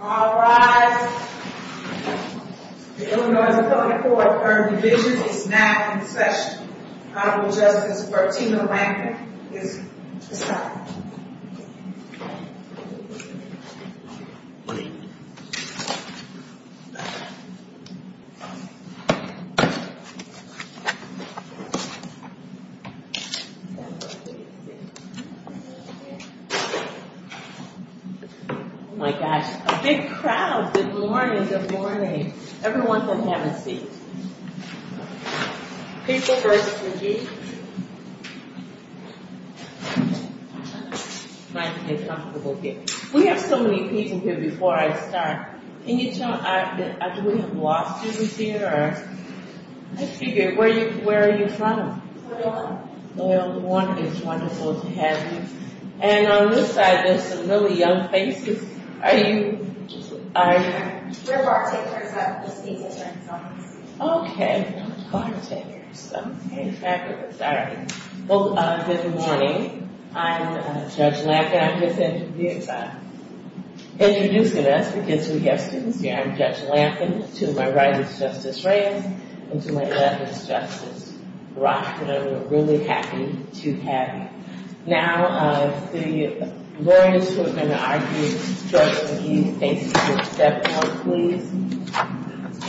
All rise. The Illinois 24th earned division is now in session. Honorable Justice Martina Langford is assigned. Oh my gosh, a big crowd. Good morning, good morning. Everyone sit down and have a seat. People versus McGee. We have so many people here before I start. Can you tell me, do we have law students here? Where are you from? Loyola. Loyola, good morning. It's wonderful to have you. And on this side, there's some really young faces. Are you? We're bartenders. Okay, bartenders. Okay, fabulous. All right. Well, good morning. I'm Judge Lampkin. I'm just introducing us because we have students here. I'm Judge Lampkin. To my right is Justice Reyes. And to my left is Justice Brock. And I'm really happy to have you. Now, the lawyers who are going to argue shortly with McGee, thank you for stepping up, please.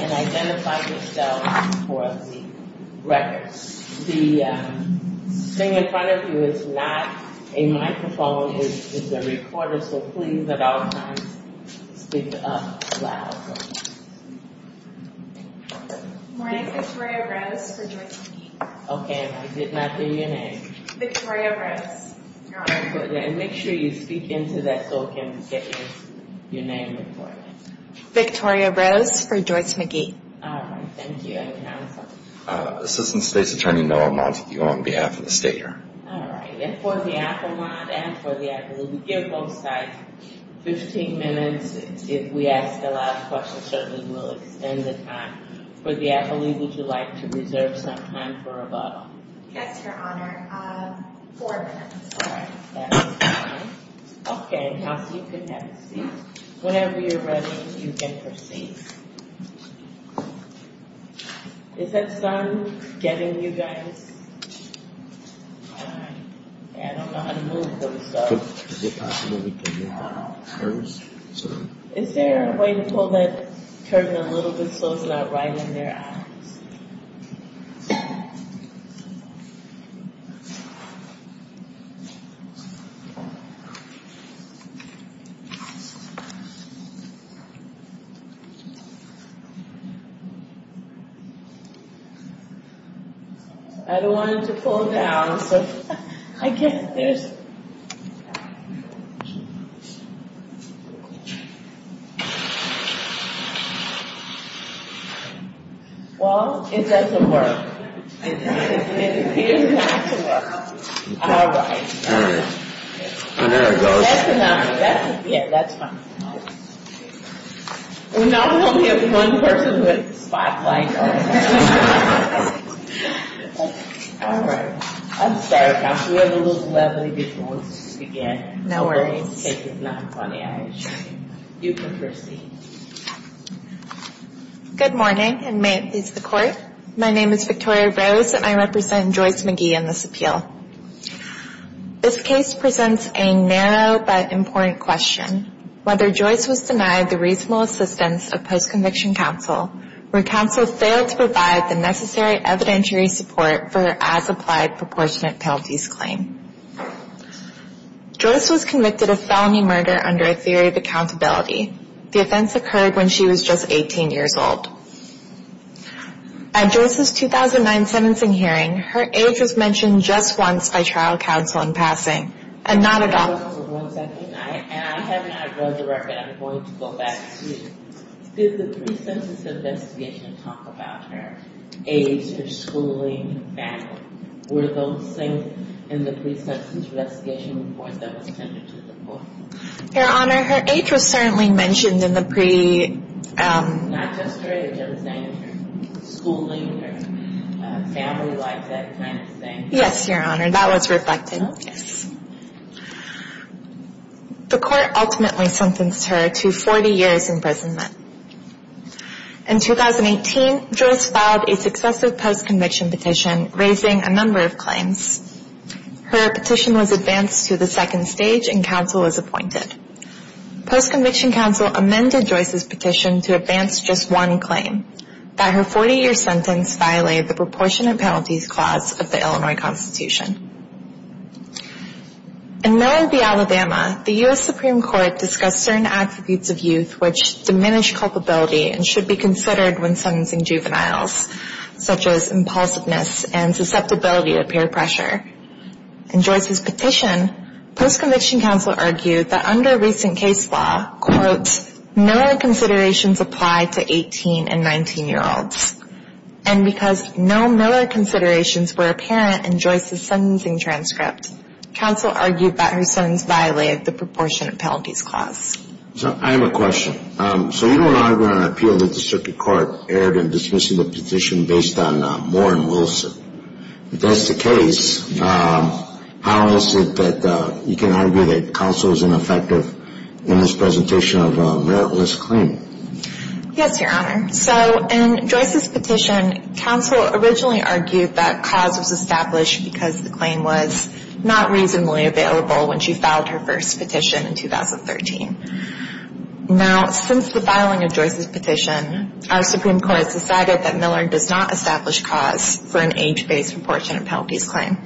And identify yourself for the record. The thing in front of you is not a microphone. It's a recorder. So please, at all times, speak up loud. Good morning, Victoria Rose for Joyce McGee. Okay, I did not hear your name. Victoria Rose. And make sure you speak into that so we can get your name recorded. Victoria Rose for Joyce McGee. All right, thank you. And counsel? Assistant State's Attorney, Noah Montague, on behalf of the state here. All right. And for the Applemont and for the Appalooke, give both sides 15 minutes. If we ask a lot of questions, certainly we'll extend the time. For the Appalooke, would you like to reserve some time for rebuttal? Yes, Your Honor. Four minutes. All right, that's fine. Okay, counsel, you can have a seat. Whenever you're ready, you can proceed. Is that sun getting you guys? I don't know how to move those. Is it possible we can move our arms? Is there a way to pull that curtain a little bit so it's not right in their eyes? I don't want it to pull down, so I guess there's... Well, it doesn't work. It appears not to work. All right. All right. Well, there it goes. Yeah, that's fine. Well, now we only have one person with a spotlight on. All right. I'm sorry, counsel. We have a little bit of a delay. No worries. It's not funny, I assure you. You can proceed. Good morning, and may it please the Court. My name is Victoria Rose, and I represent Joyce McGee in this appeal. This case presents a narrow but important question, whether Joyce was denied the reasonable assistance of post-conviction counsel, where counsel failed to provide the necessary evidentiary support for her as-applied proportionate penalties claim. Joyce was convicted of felony murder under a theory of accountability. The offense occurred when she was just 18 years old. At Joyce's 2009 sentencing hearing, her age was mentioned just once by trial counsel in passing, and not at all. I have not read the record. I'm going to go back to it. Did the pre-sentence investigation talk about her age, her schooling, her family? Were those things in the pre-sentence investigation report that was sent to the Court? Your Honor, her age was certainly mentioned in the pre- Not just her age. I was saying her schooling, her family life, that kind of thing. Yes, Your Honor. That was reflected. Yes. The Court ultimately sentenced her to 40 years imprisonment. In 2018, Joyce filed a successive post-conviction petition, raising a number of claims. Her petition was advanced to the second stage, and counsel was appointed. Post-conviction counsel amended Joyce's petition to advance just one claim. That her 40-year sentence violated the Proportionate Penalties Clause of the Illinois Constitution. In Miller v. Alabama, the U.S. Supreme Court discussed certain attributes of youth which diminished culpability and should be considered when sentencing juveniles, such as impulsiveness and susceptibility to peer pressure. In Joyce's petition, post-conviction counsel argued that under recent case law, quote, Miller considerations apply to 18 and 19-year-olds. And because no Miller considerations were apparent in Joyce's sentencing transcript, counsel argued that her sentence violated the Proportionate Penalties Clause. I have a question. So you don't argue on appeal that the Circuit Court erred in dismissing the petition based on Moore and Wilson. If that's the case, how is it that you can argue that counsel is ineffective in this presentation of a meritless claim? Yes, Your Honor. So in Joyce's petition, counsel originally argued that cause was established because the claim was not reasonably available when she filed her first petition in 2013. Now, since the filing of Joyce's petition, our Supreme Court has decided that Miller does not establish cause for an age-based Proportionate Penalties Claim.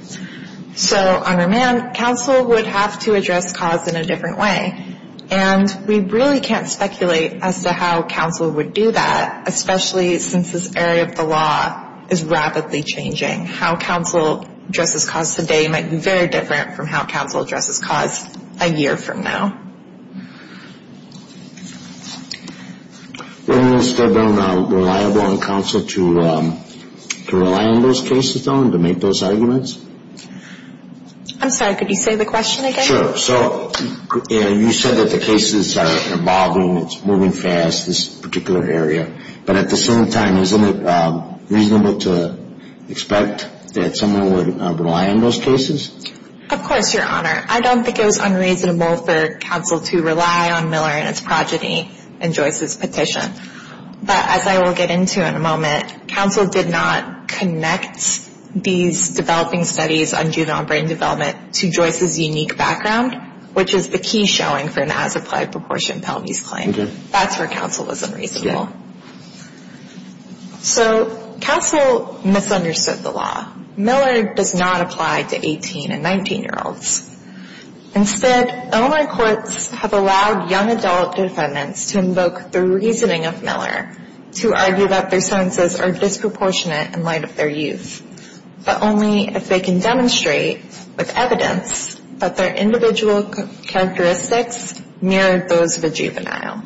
So on remand, counsel would have to address cause in a different way. And we really can't speculate as to how counsel would do that, especially since this area of the law is rapidly changing. How counsel addresses cause today might be very different from how counsel addresses cause a year from now. Wouldn't it still be reliable on counsel to rely on those cases, though, and to make those arguments? I'm sorry, could you say the question again? Sure. So you said that the cases are evolving, it's moving fast, this particular area. But at the same time, isn't it reasonable to expect that someone would rely on those cases? Of course, Your Honor. I don't think it was unreasonable for counsel to rely on Miller and its progeny in Joyce's petition. But as I will get into in a moment, counsel did not connect these developing studies on juvenile brain development to Joyce's unique background, which is the key showing for an As-Applied Proportionate Penalties Claim. Okay. That's where counsel was unreasonable. So counsel misunderstood the law. Miller does not apply to 18- and 19-year-olds. Instead, Illinois courts have allowed young adult defendants to invoke the reasoning of Miller to argue that their senses are disproportionate in light of their youth, but only if they can demonstrate with evidence that their individual characteristics mirror those of a juvenile.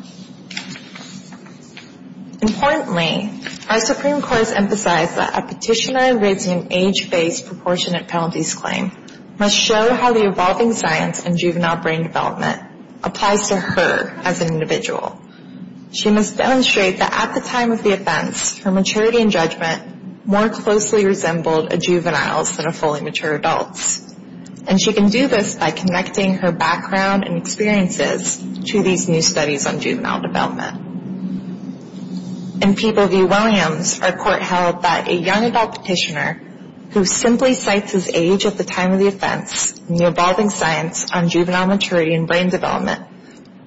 Importantly, our Supreme Court has emphasized that a petitioner raising an age-based proportionate penalties claim must show how the evolving science in juvenile brain development applies to her as an individual. She must demonstrate that at the time of the offense, her maturity and judgment more closely resembled a juvenile's than a fully mature adult's. And she can do this by connecting her background and experiences to these new studies on juvenile development. In People v. Williams, our court held that a young adult petitioner who simply cites his age at the time of the offense and the evolving science on juvenile maturity and brain development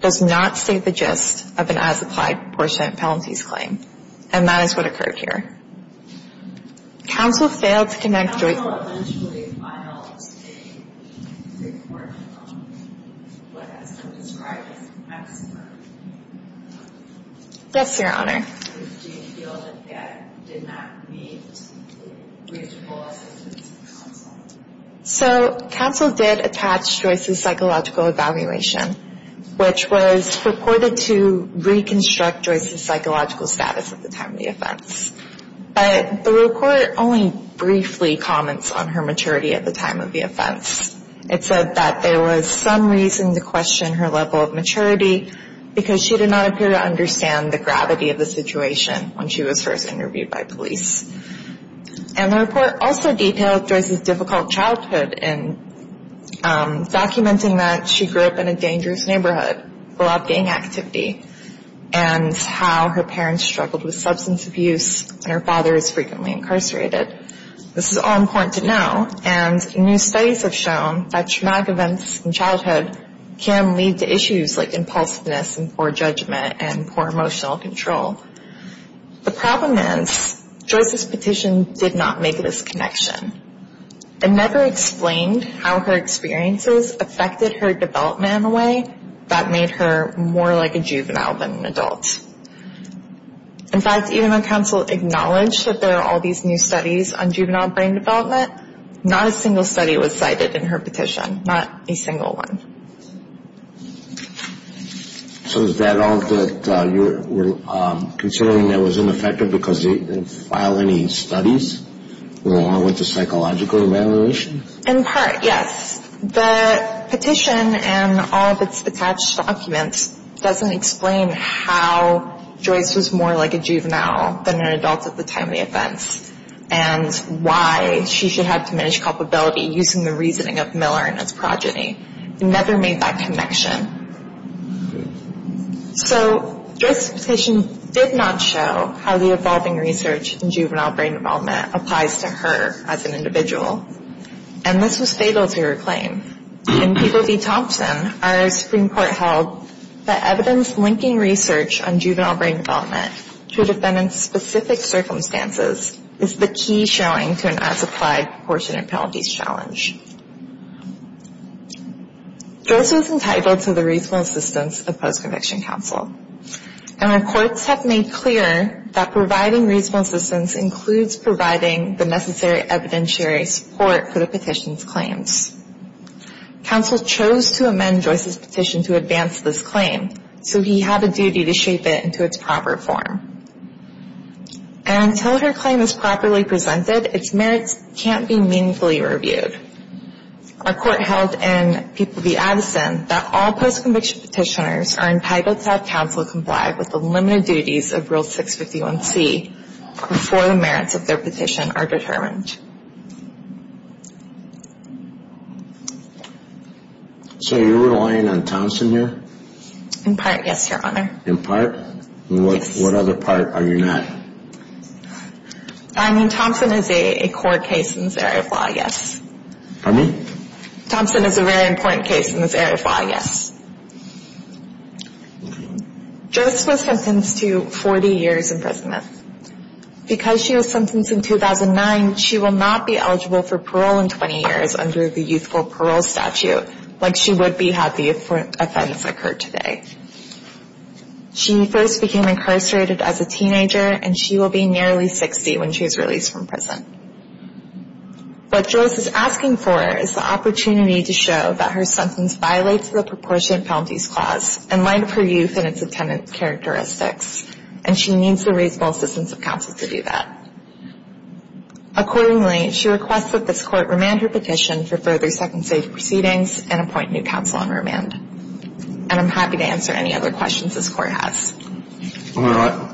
does not state the gist of an as-applied proportionate penalties claim. And that is what occurred here. Counsel failed to connect... Counsel eventually filed a report on what has been described as an accident. Yes, Your Honor. Do you feel that that did not meet reasonable assistance from counsel? So, counsel did attach Joyce's psychological evaluation, which was purported to reconstruct Joyce's psychological status at the time of the offense. But the report only briefly comments on her maturity at the time of the offense. It said that there was some reason to question her level of maturity because she did not appear to understand the gravity of the situation when she was first interviewed by police. And the report also detailed Joyce's difficult childhood in documenting that she grew up in a dangerous neighborhood, a lot of gang activity, and how her parents struggled with substance abuse and her father is frequently incarcerated. This is all important to know. And new studies have shown that traumatic events in childhood can lead to issues like impulsiveness and poor judgment and poor emotional control. The problem is Joyce's petition did not make this connection. It never explained how her experiences affected her development in a way that made her more like a juvenile than an adult. In fact, even though counsel acknowledged that there are all these new studies on juvenile brain development, not a single study was cited in her petition, not a single one. So is that all that you're considering that was ineffective because they didn't file any studies? It went along with the psychological evaluation? In part, yes. The petition and all of its attached documents doesn't explain how Joyce was more like a juvenile than an adult at the time of the offense and why she should have diminished culpability using the reasoning of Miller and his progeny. It never made that connection. So Joyce's petition did not show how the evolving research in juvenile brain development applies to her as an individual. And this was fatal to her claim. In People v. Thompson, our Supreme Court held that evidence linking research on juvenile brain development to a defendant's specific circumstances is the key showing to an as-applied proportionate penalties challenge. Joyce was entitled to the reasonable assistance of post-conviction counsel, and our courts have made clear that providing reasonable assistance includes providing the necessary evidentiary support for the petition's claims. Counsel chose to amend Joyce's petition to advance this claim, so he had a duty to shape it into its proper form. And until her claim is properly presented, its merits can't be meaningfully reviewed. Our court held in People v. Addison that all post-conviction petitioners are entitled to have counsel comply with the limited duties of Rule 651C before the merits of their petition are determined. So you're relying on Thompson here? In part, yes, Your Honor. In part? Yes. What other part are you not? I mean, Thompson is a core case in this area of law, yes. Pardon me? Thompson is a very important case in this area of law, yes. Joyce was sentenced to 40 years in prison. Because she was sentenced in 2009, she will not be eligible for parole in 20 years under the youthful parole statute, like she would be had the offense occurred today. She first became incarcerated as a teenager, and she will be nearly 60 when she is released from prison. What Joyce is asking for is the opportunity to show that her sentence violates the Proportionate Felonies Clause in light of her youth and its attendance characteristics, and she needs the reasonable assistance of counsel to do that. Accordingly, she requests that this Court remand her petition for further second safe proceedings and appoint new counsel on remand. And I'm happy to answer any other questions this Court has. I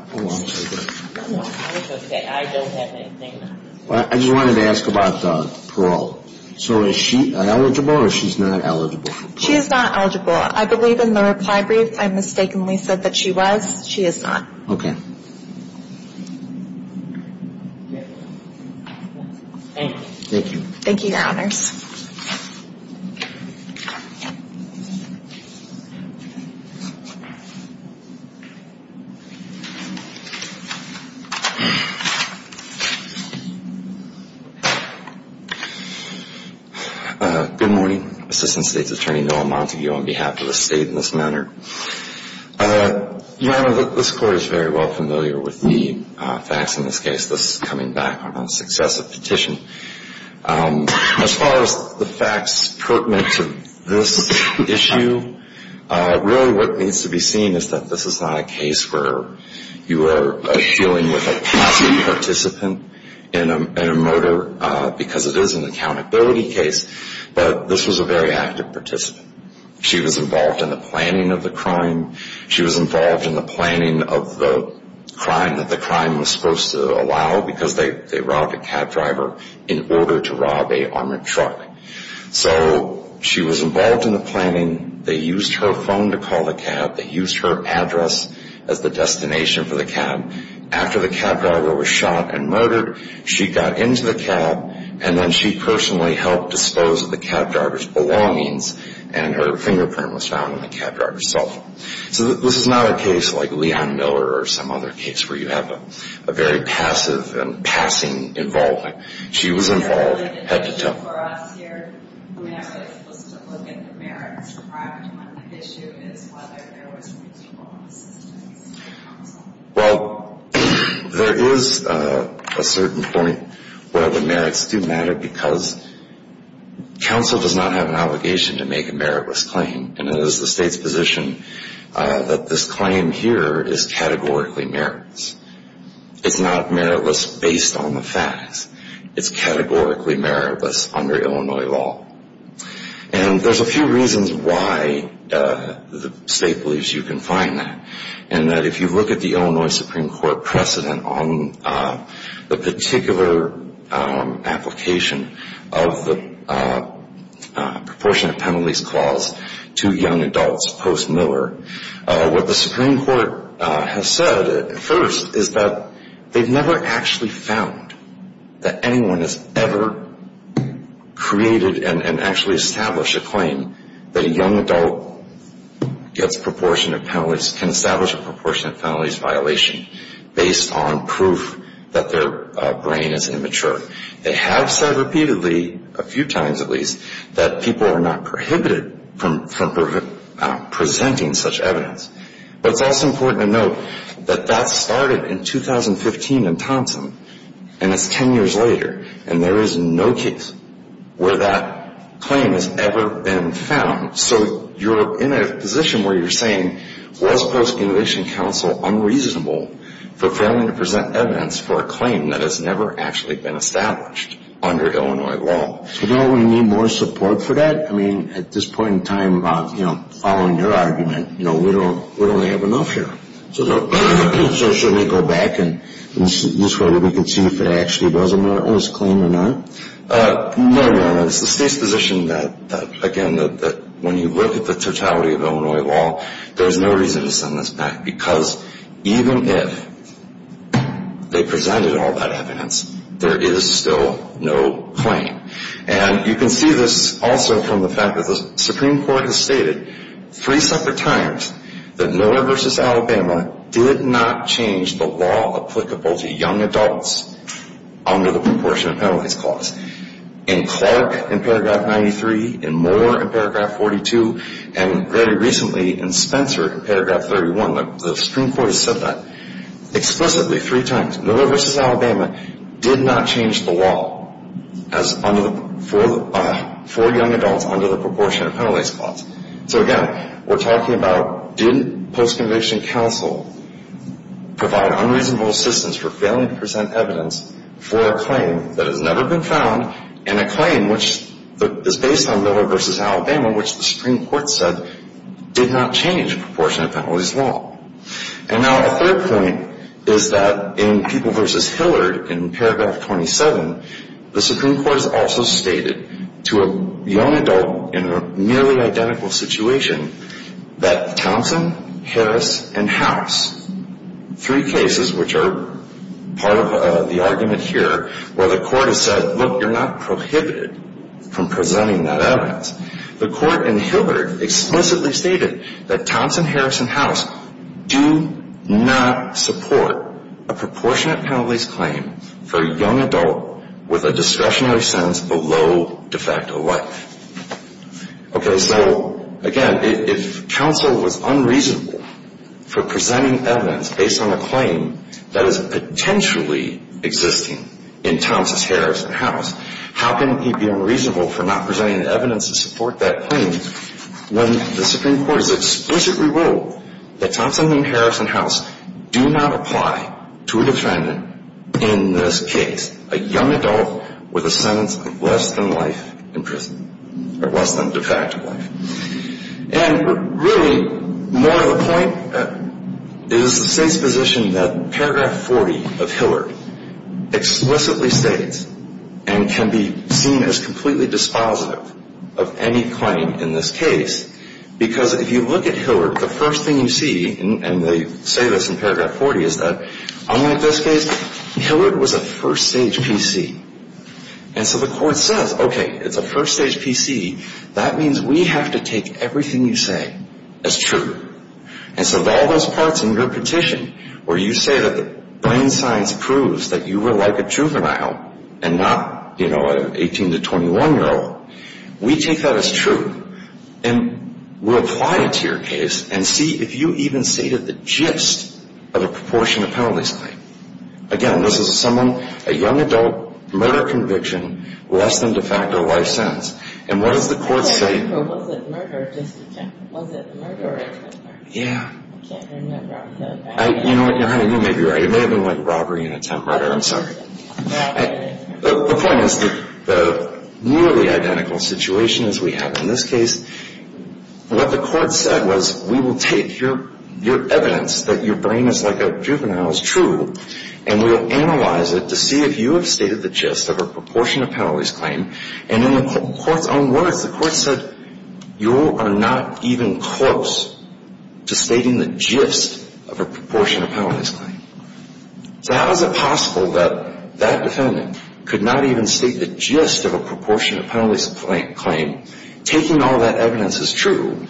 just wanted to ask about parole. So is she eligible or she's not eligible for parole? She is not eligible. I believe in the reply brief I mistakenly said that she was. She is not. Okay. Thank you. Thank you, Your Honors. Good morning. Assistant State's Attorney Noah Montague on behalf of the State in this matter. Your Honor, this Court is very well familiar with the facts in this case. This is coming back on a successive petition. As far as the facts pertinent to this issue, really what needs to be seen is that this is not a case where you are dealing with a passive participant in a murder because it is an accountability case, but this was a very active participant. She was involved in the planning of the crime. She was involved in the planning of the crime that the crime was supposed to allow because they robbed a cab driver in order to rob an armored truck. So she was involved in the planning. They used her phone to call the cab. They used her address as the destination for the cab. After the cab driver was shot and murdered, she got into the cab, and then she personally helped dispose of the cab driver's belongings, and her fingerprint was found on the cab driver's cell phone. So this is not a case like Leon Miller or some other case where you have a very passive and passing involvement. She was involved head-to-toe. Well, there is a certain point where the merits do matter because counsel does not have an obligation to make a meritless claim, and it is the state's position that this claim here is categorically meritless. It's not meritless based on the facts. It's categorically meritless under Illinois law. And there's a few reasons why the state believes you can find that, and that if you look at the Illinois Supreme Court precedent on the particular application of the proportionate penalties clause to young adults post-Miller, what the Supreme Court has said at first is that they've never actually found that anyone has ever created and actually established a claim that a young adult can establish a proportionate penalties violation based on proof that their brain is immature. They have said repeatedly, a few times at least, that people are not prohibited from presenting such evidence. But it's also important to note that that started in 2015 in Thompson, and it's 10 years later, and there is no case where that claim has ever been found. So you're in a position where you're saying, was Post-Innovation Counsel unreasonable for failing to present evidence for a claim that has never actually been established under Illinois law? So don't we need more support for that? I mean, at this point in time, following your argument, we don't have enough here. So shouldn't we go back and see if it actually was a Martinist claim or not? No, Your Honor. It's the State's position that, again, when you look at the totality of Illinois law, there's no reason to send this back because even if they presented all that evidence, there is still no claim. And you can see this also from the fact that the Supreme Court has stated three separate times that Miller v. Alabama did not change the law applicable to young adults under the proportionate penalties clause. In Clark in paragraph 93, in Moore in paragraph 42, and very recently in Spencer in paragraph 31, the Supreme Court has said that explicitly three times. Miller v. Alabama did not change the law for young adults under the proportionate penalties clause. So, again, we're talking about did post-conviction counsel provide unreasonable assistance for failing to present evidence for a claim that has never been found and a claim which is based on Miller v. Alabama, which the Supreme Court said did not change the proportionate penalties law. And now a third point is that in People v. Hillard in paragraph 27, the Supreme Court has also stated to a young adult in a nearly identical situation that Thompson, Harris, and House, three cases which are part of the argument here, where the court has said, look, you're not prohibited from presenting that evidence. The court in Hillard explicitly stated that Thompson, Harris, and House do not support a proportionate penalties claim for a young adult with a discretionary sentence below de facto life. Okay. So, again, if counsel was unreasonable for presenting evidence based on a claim that is potentially existing in Thompson, Harris, and House, how can he be unreasonable for not presenting evidence to support that claim when the Supreme Court has explicitly ruled that Thompson, Harris, and House do not apply to a defendant in this case, a young adult with a sentence of less than life in prison, or less than de facto life. And really more of a point is the State's position that paragraph 40 of Hillard explicitly states and can be seen as completely dispositive of any claim in this case. Because if you look at Hillard, the first thing you see, and they say this in paragraph 40, is that unlike this case, Hillard was a first-stage PC. And so the court says, okay, it's a first-stage PC. That means we have to take everything you say as true. And so all those parts in your petition where you say that brain science proves that you were like a juvenile and not, you know, an 18 to 21-year-old, we take that as true. And we'll apply it to your case and see if you even stated the gist of the proportion of penalties claimed. Again, this is someone, a young adult, murder conviction, less than de facto life sentence. And what does the court say? Was it murder or attempt murder? Yeah. I can't remember. You know what, honey, you may be right. It may have been like robbery and attempt murder. I'm sorry. The point is the nearly identical situation as we have in this case, what the court said was we will take your evidence that your brain is like a juvenile is true, and we will analyze it to see if you have stated the gist of a proportion of penalties claimed. And in the court's own words, the court said, you are not even close to stating the gist of a proportion of penalties claimed. So how is it possible that that defendant could not even state the gist of a proportion of penalties claimed? Taking all that evidence is true.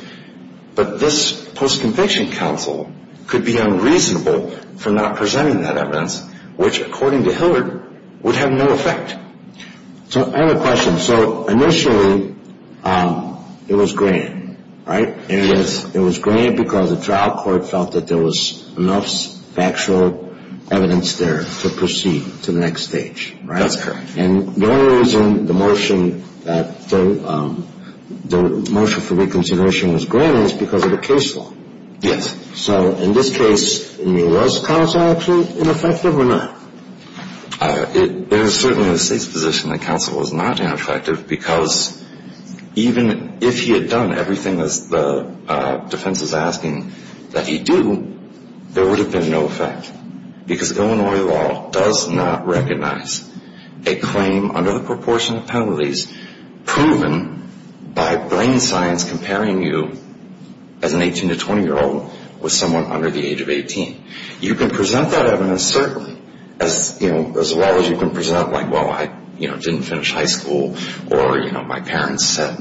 But this post-conviction counsel could be unreasonable for not presenting that evidence, which, according to Hillard, would have no effect. So I have a question. So initially it was grand, right? Yes. It was grand because the trial court felt that there was enough factual evidence there to proceed to the next stage. That's correct. And the only reason the motion for reconsideration was grand is because of the case law. Yes. So in this case, was counsel actually ineffective or not? There is certainly the State's position that counsel was not ineffective because even if he had done everything the defense is asking that he do, there would have been no effect. Because Illinois law does not recognize a claim under the proportion of penalties proven by brain science comparing you as an 18 to 20-year-old with someone under the age of 18. You can present that evidence, certainly, as well as you can present like, well, I didn't finish high school or my parents had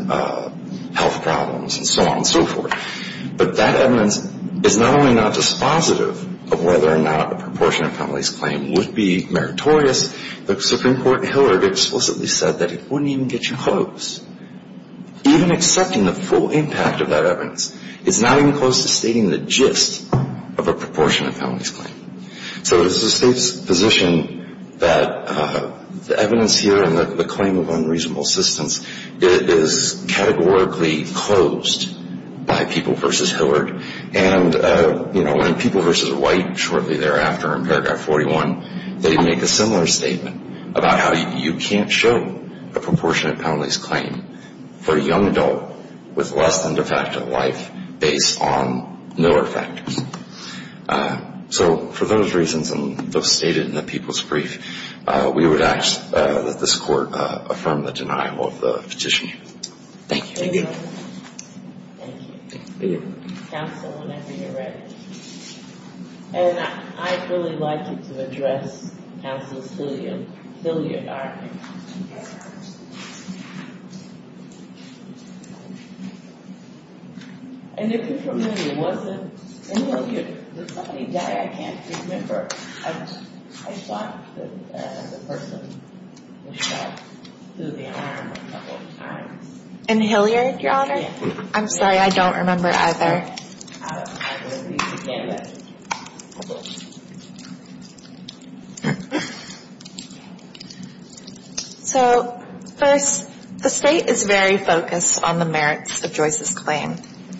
health problems and so on and so forth. But that evidence is not only not dispositive of whether or not a proportion of penalties claimed would be meritorious. The Supreme Court in Hillard explicitly said that it wouldn't even get you close. Even accepting the full impact of that evidence is not even close to stating the gist of a proportion of penalties claim. So it was the State's position that the evidence here and the claim of unreasonable assistance is categorically closed by People v. Hillard. And, you know, in People v. White shortly thereafter in paragraph 41, they make a similar statement about how you can't show a proportion of penalties claim for a young adult with less than de facto life based on Miller factors. So for those reasons, and those stated in the People's Brief, we would ask that this Court affirm the denial of the petition. Thank you. Thank you. Counsel, whenever you're ready. And I'd really like you to address counsel's Hilliard argument. And if you're familiar, was it in Hilliard? Did somebody die? I can't remember. I thought that the person was shot through the arm a couple of times. In Hilliard, Your Honor? I'm sorry, I don't remember either. All right. So first, the State is very focused on the merits of Joyce's claim.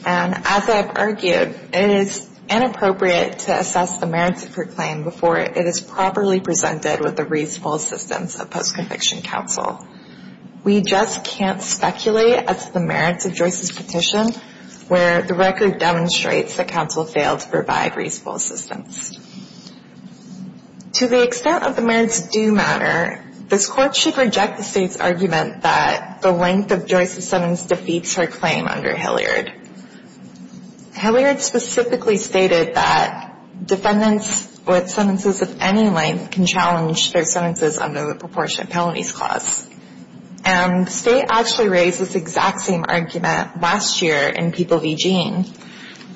And as I've argued, it is inappropriate to assess the merits of her claim before it is properly presented with the reasonable assistance of post-conviction counsel. We just can't speculate as to the merits of Joyce's petition, where the record demonstrates that counsel failed to provide reasonable assistance. To the extent of the merits do matter, this Court should reject the State's argument that the length of Joyce's sentence defeats her claim under Hilliard. Hilliard specifically stated that defendants with sentences of any length can challenge their sentences under the proportionate penalties clause. And the State actually raised this exact same argument last year in People v. Gene,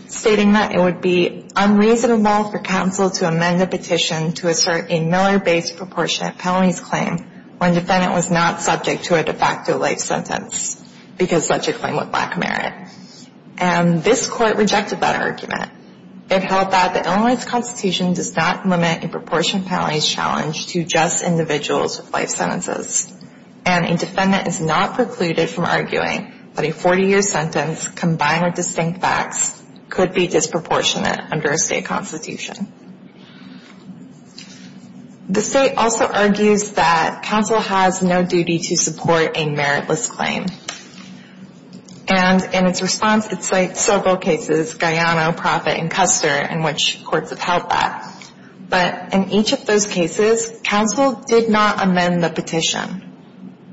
stating that it would be unreasonable for counsel to amend a petition to assert a Miller-based proportionate penalties claim when defendant was not subject to a de facto life sentence because such a claim would lack merit. And this Court rejected that argument. It held that the Illinois Constitution does not limit a proportionate penalties challenge to just individuals with life sentences. And a defendant is not precluded from arguing that a 40-year sentence combined with distinct facts could be disproportionate under a State constitution. The State also argues that counsel has no duty to support a meritless claim. And in its response, it cites several cases, Guyano, Proffitt, and Custer, in which courts have held that. But in each of those cases, counsel did not amend the petition.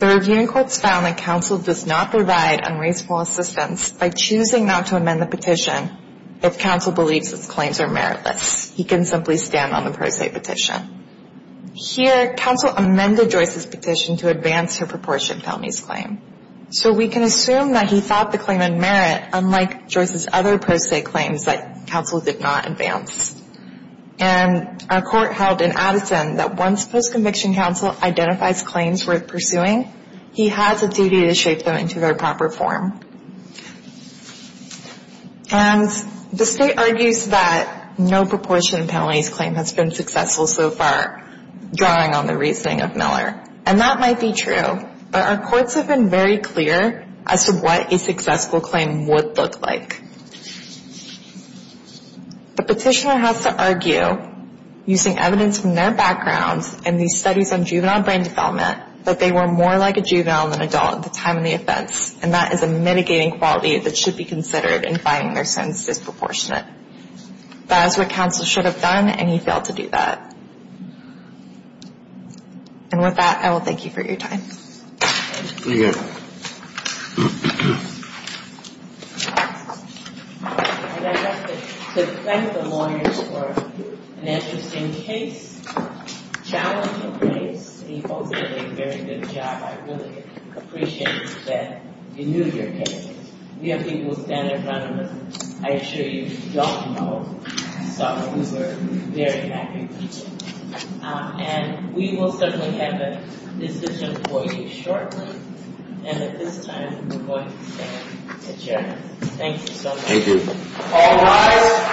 The reviewing courts found that counsel does not provide unreasonable assistance by choosing not to amend the petition if counsel believes its claims are meritless. He can simply stand on the pro se petition. Here, counsel amended Joyce's petition to advance her proportionate penalties claim. So we can assume that he thought the claim had merit, unlike Joyce's other pro se claims that counsel did not advance. And our Court held in Addison that once post-conviction counsel identifies claims worth pursuing, he has a duty to shape them into their proper form. And the State argues that no proportionate penalties claim has been successful so far, drawing on the reasoning of Miller. And that might be true. But our courts have been very clear as to what a successful claim would look like. The petitioner has to argue, using evidence from their background and these studies on juvenile brain development, that they were more like a juvenile than an adult at the time of the offense. And that is a mitigating quality that should be considered in finding their sentence disproportionate. That is what counsel should have done, and he failed to do that. And with that, I will thank you for your time. Thank you. And I'd like to thank the lawyers for an interesting case, challenging case. You both did a very good job. I really appreciate that you knew your case. We have people standing in front of us, I assure you, who don't know someone who's a very happy person. And we will certainly have a decision for you shortly. And at this time, we're going to stand adjourned. Thank you so much. Thank you.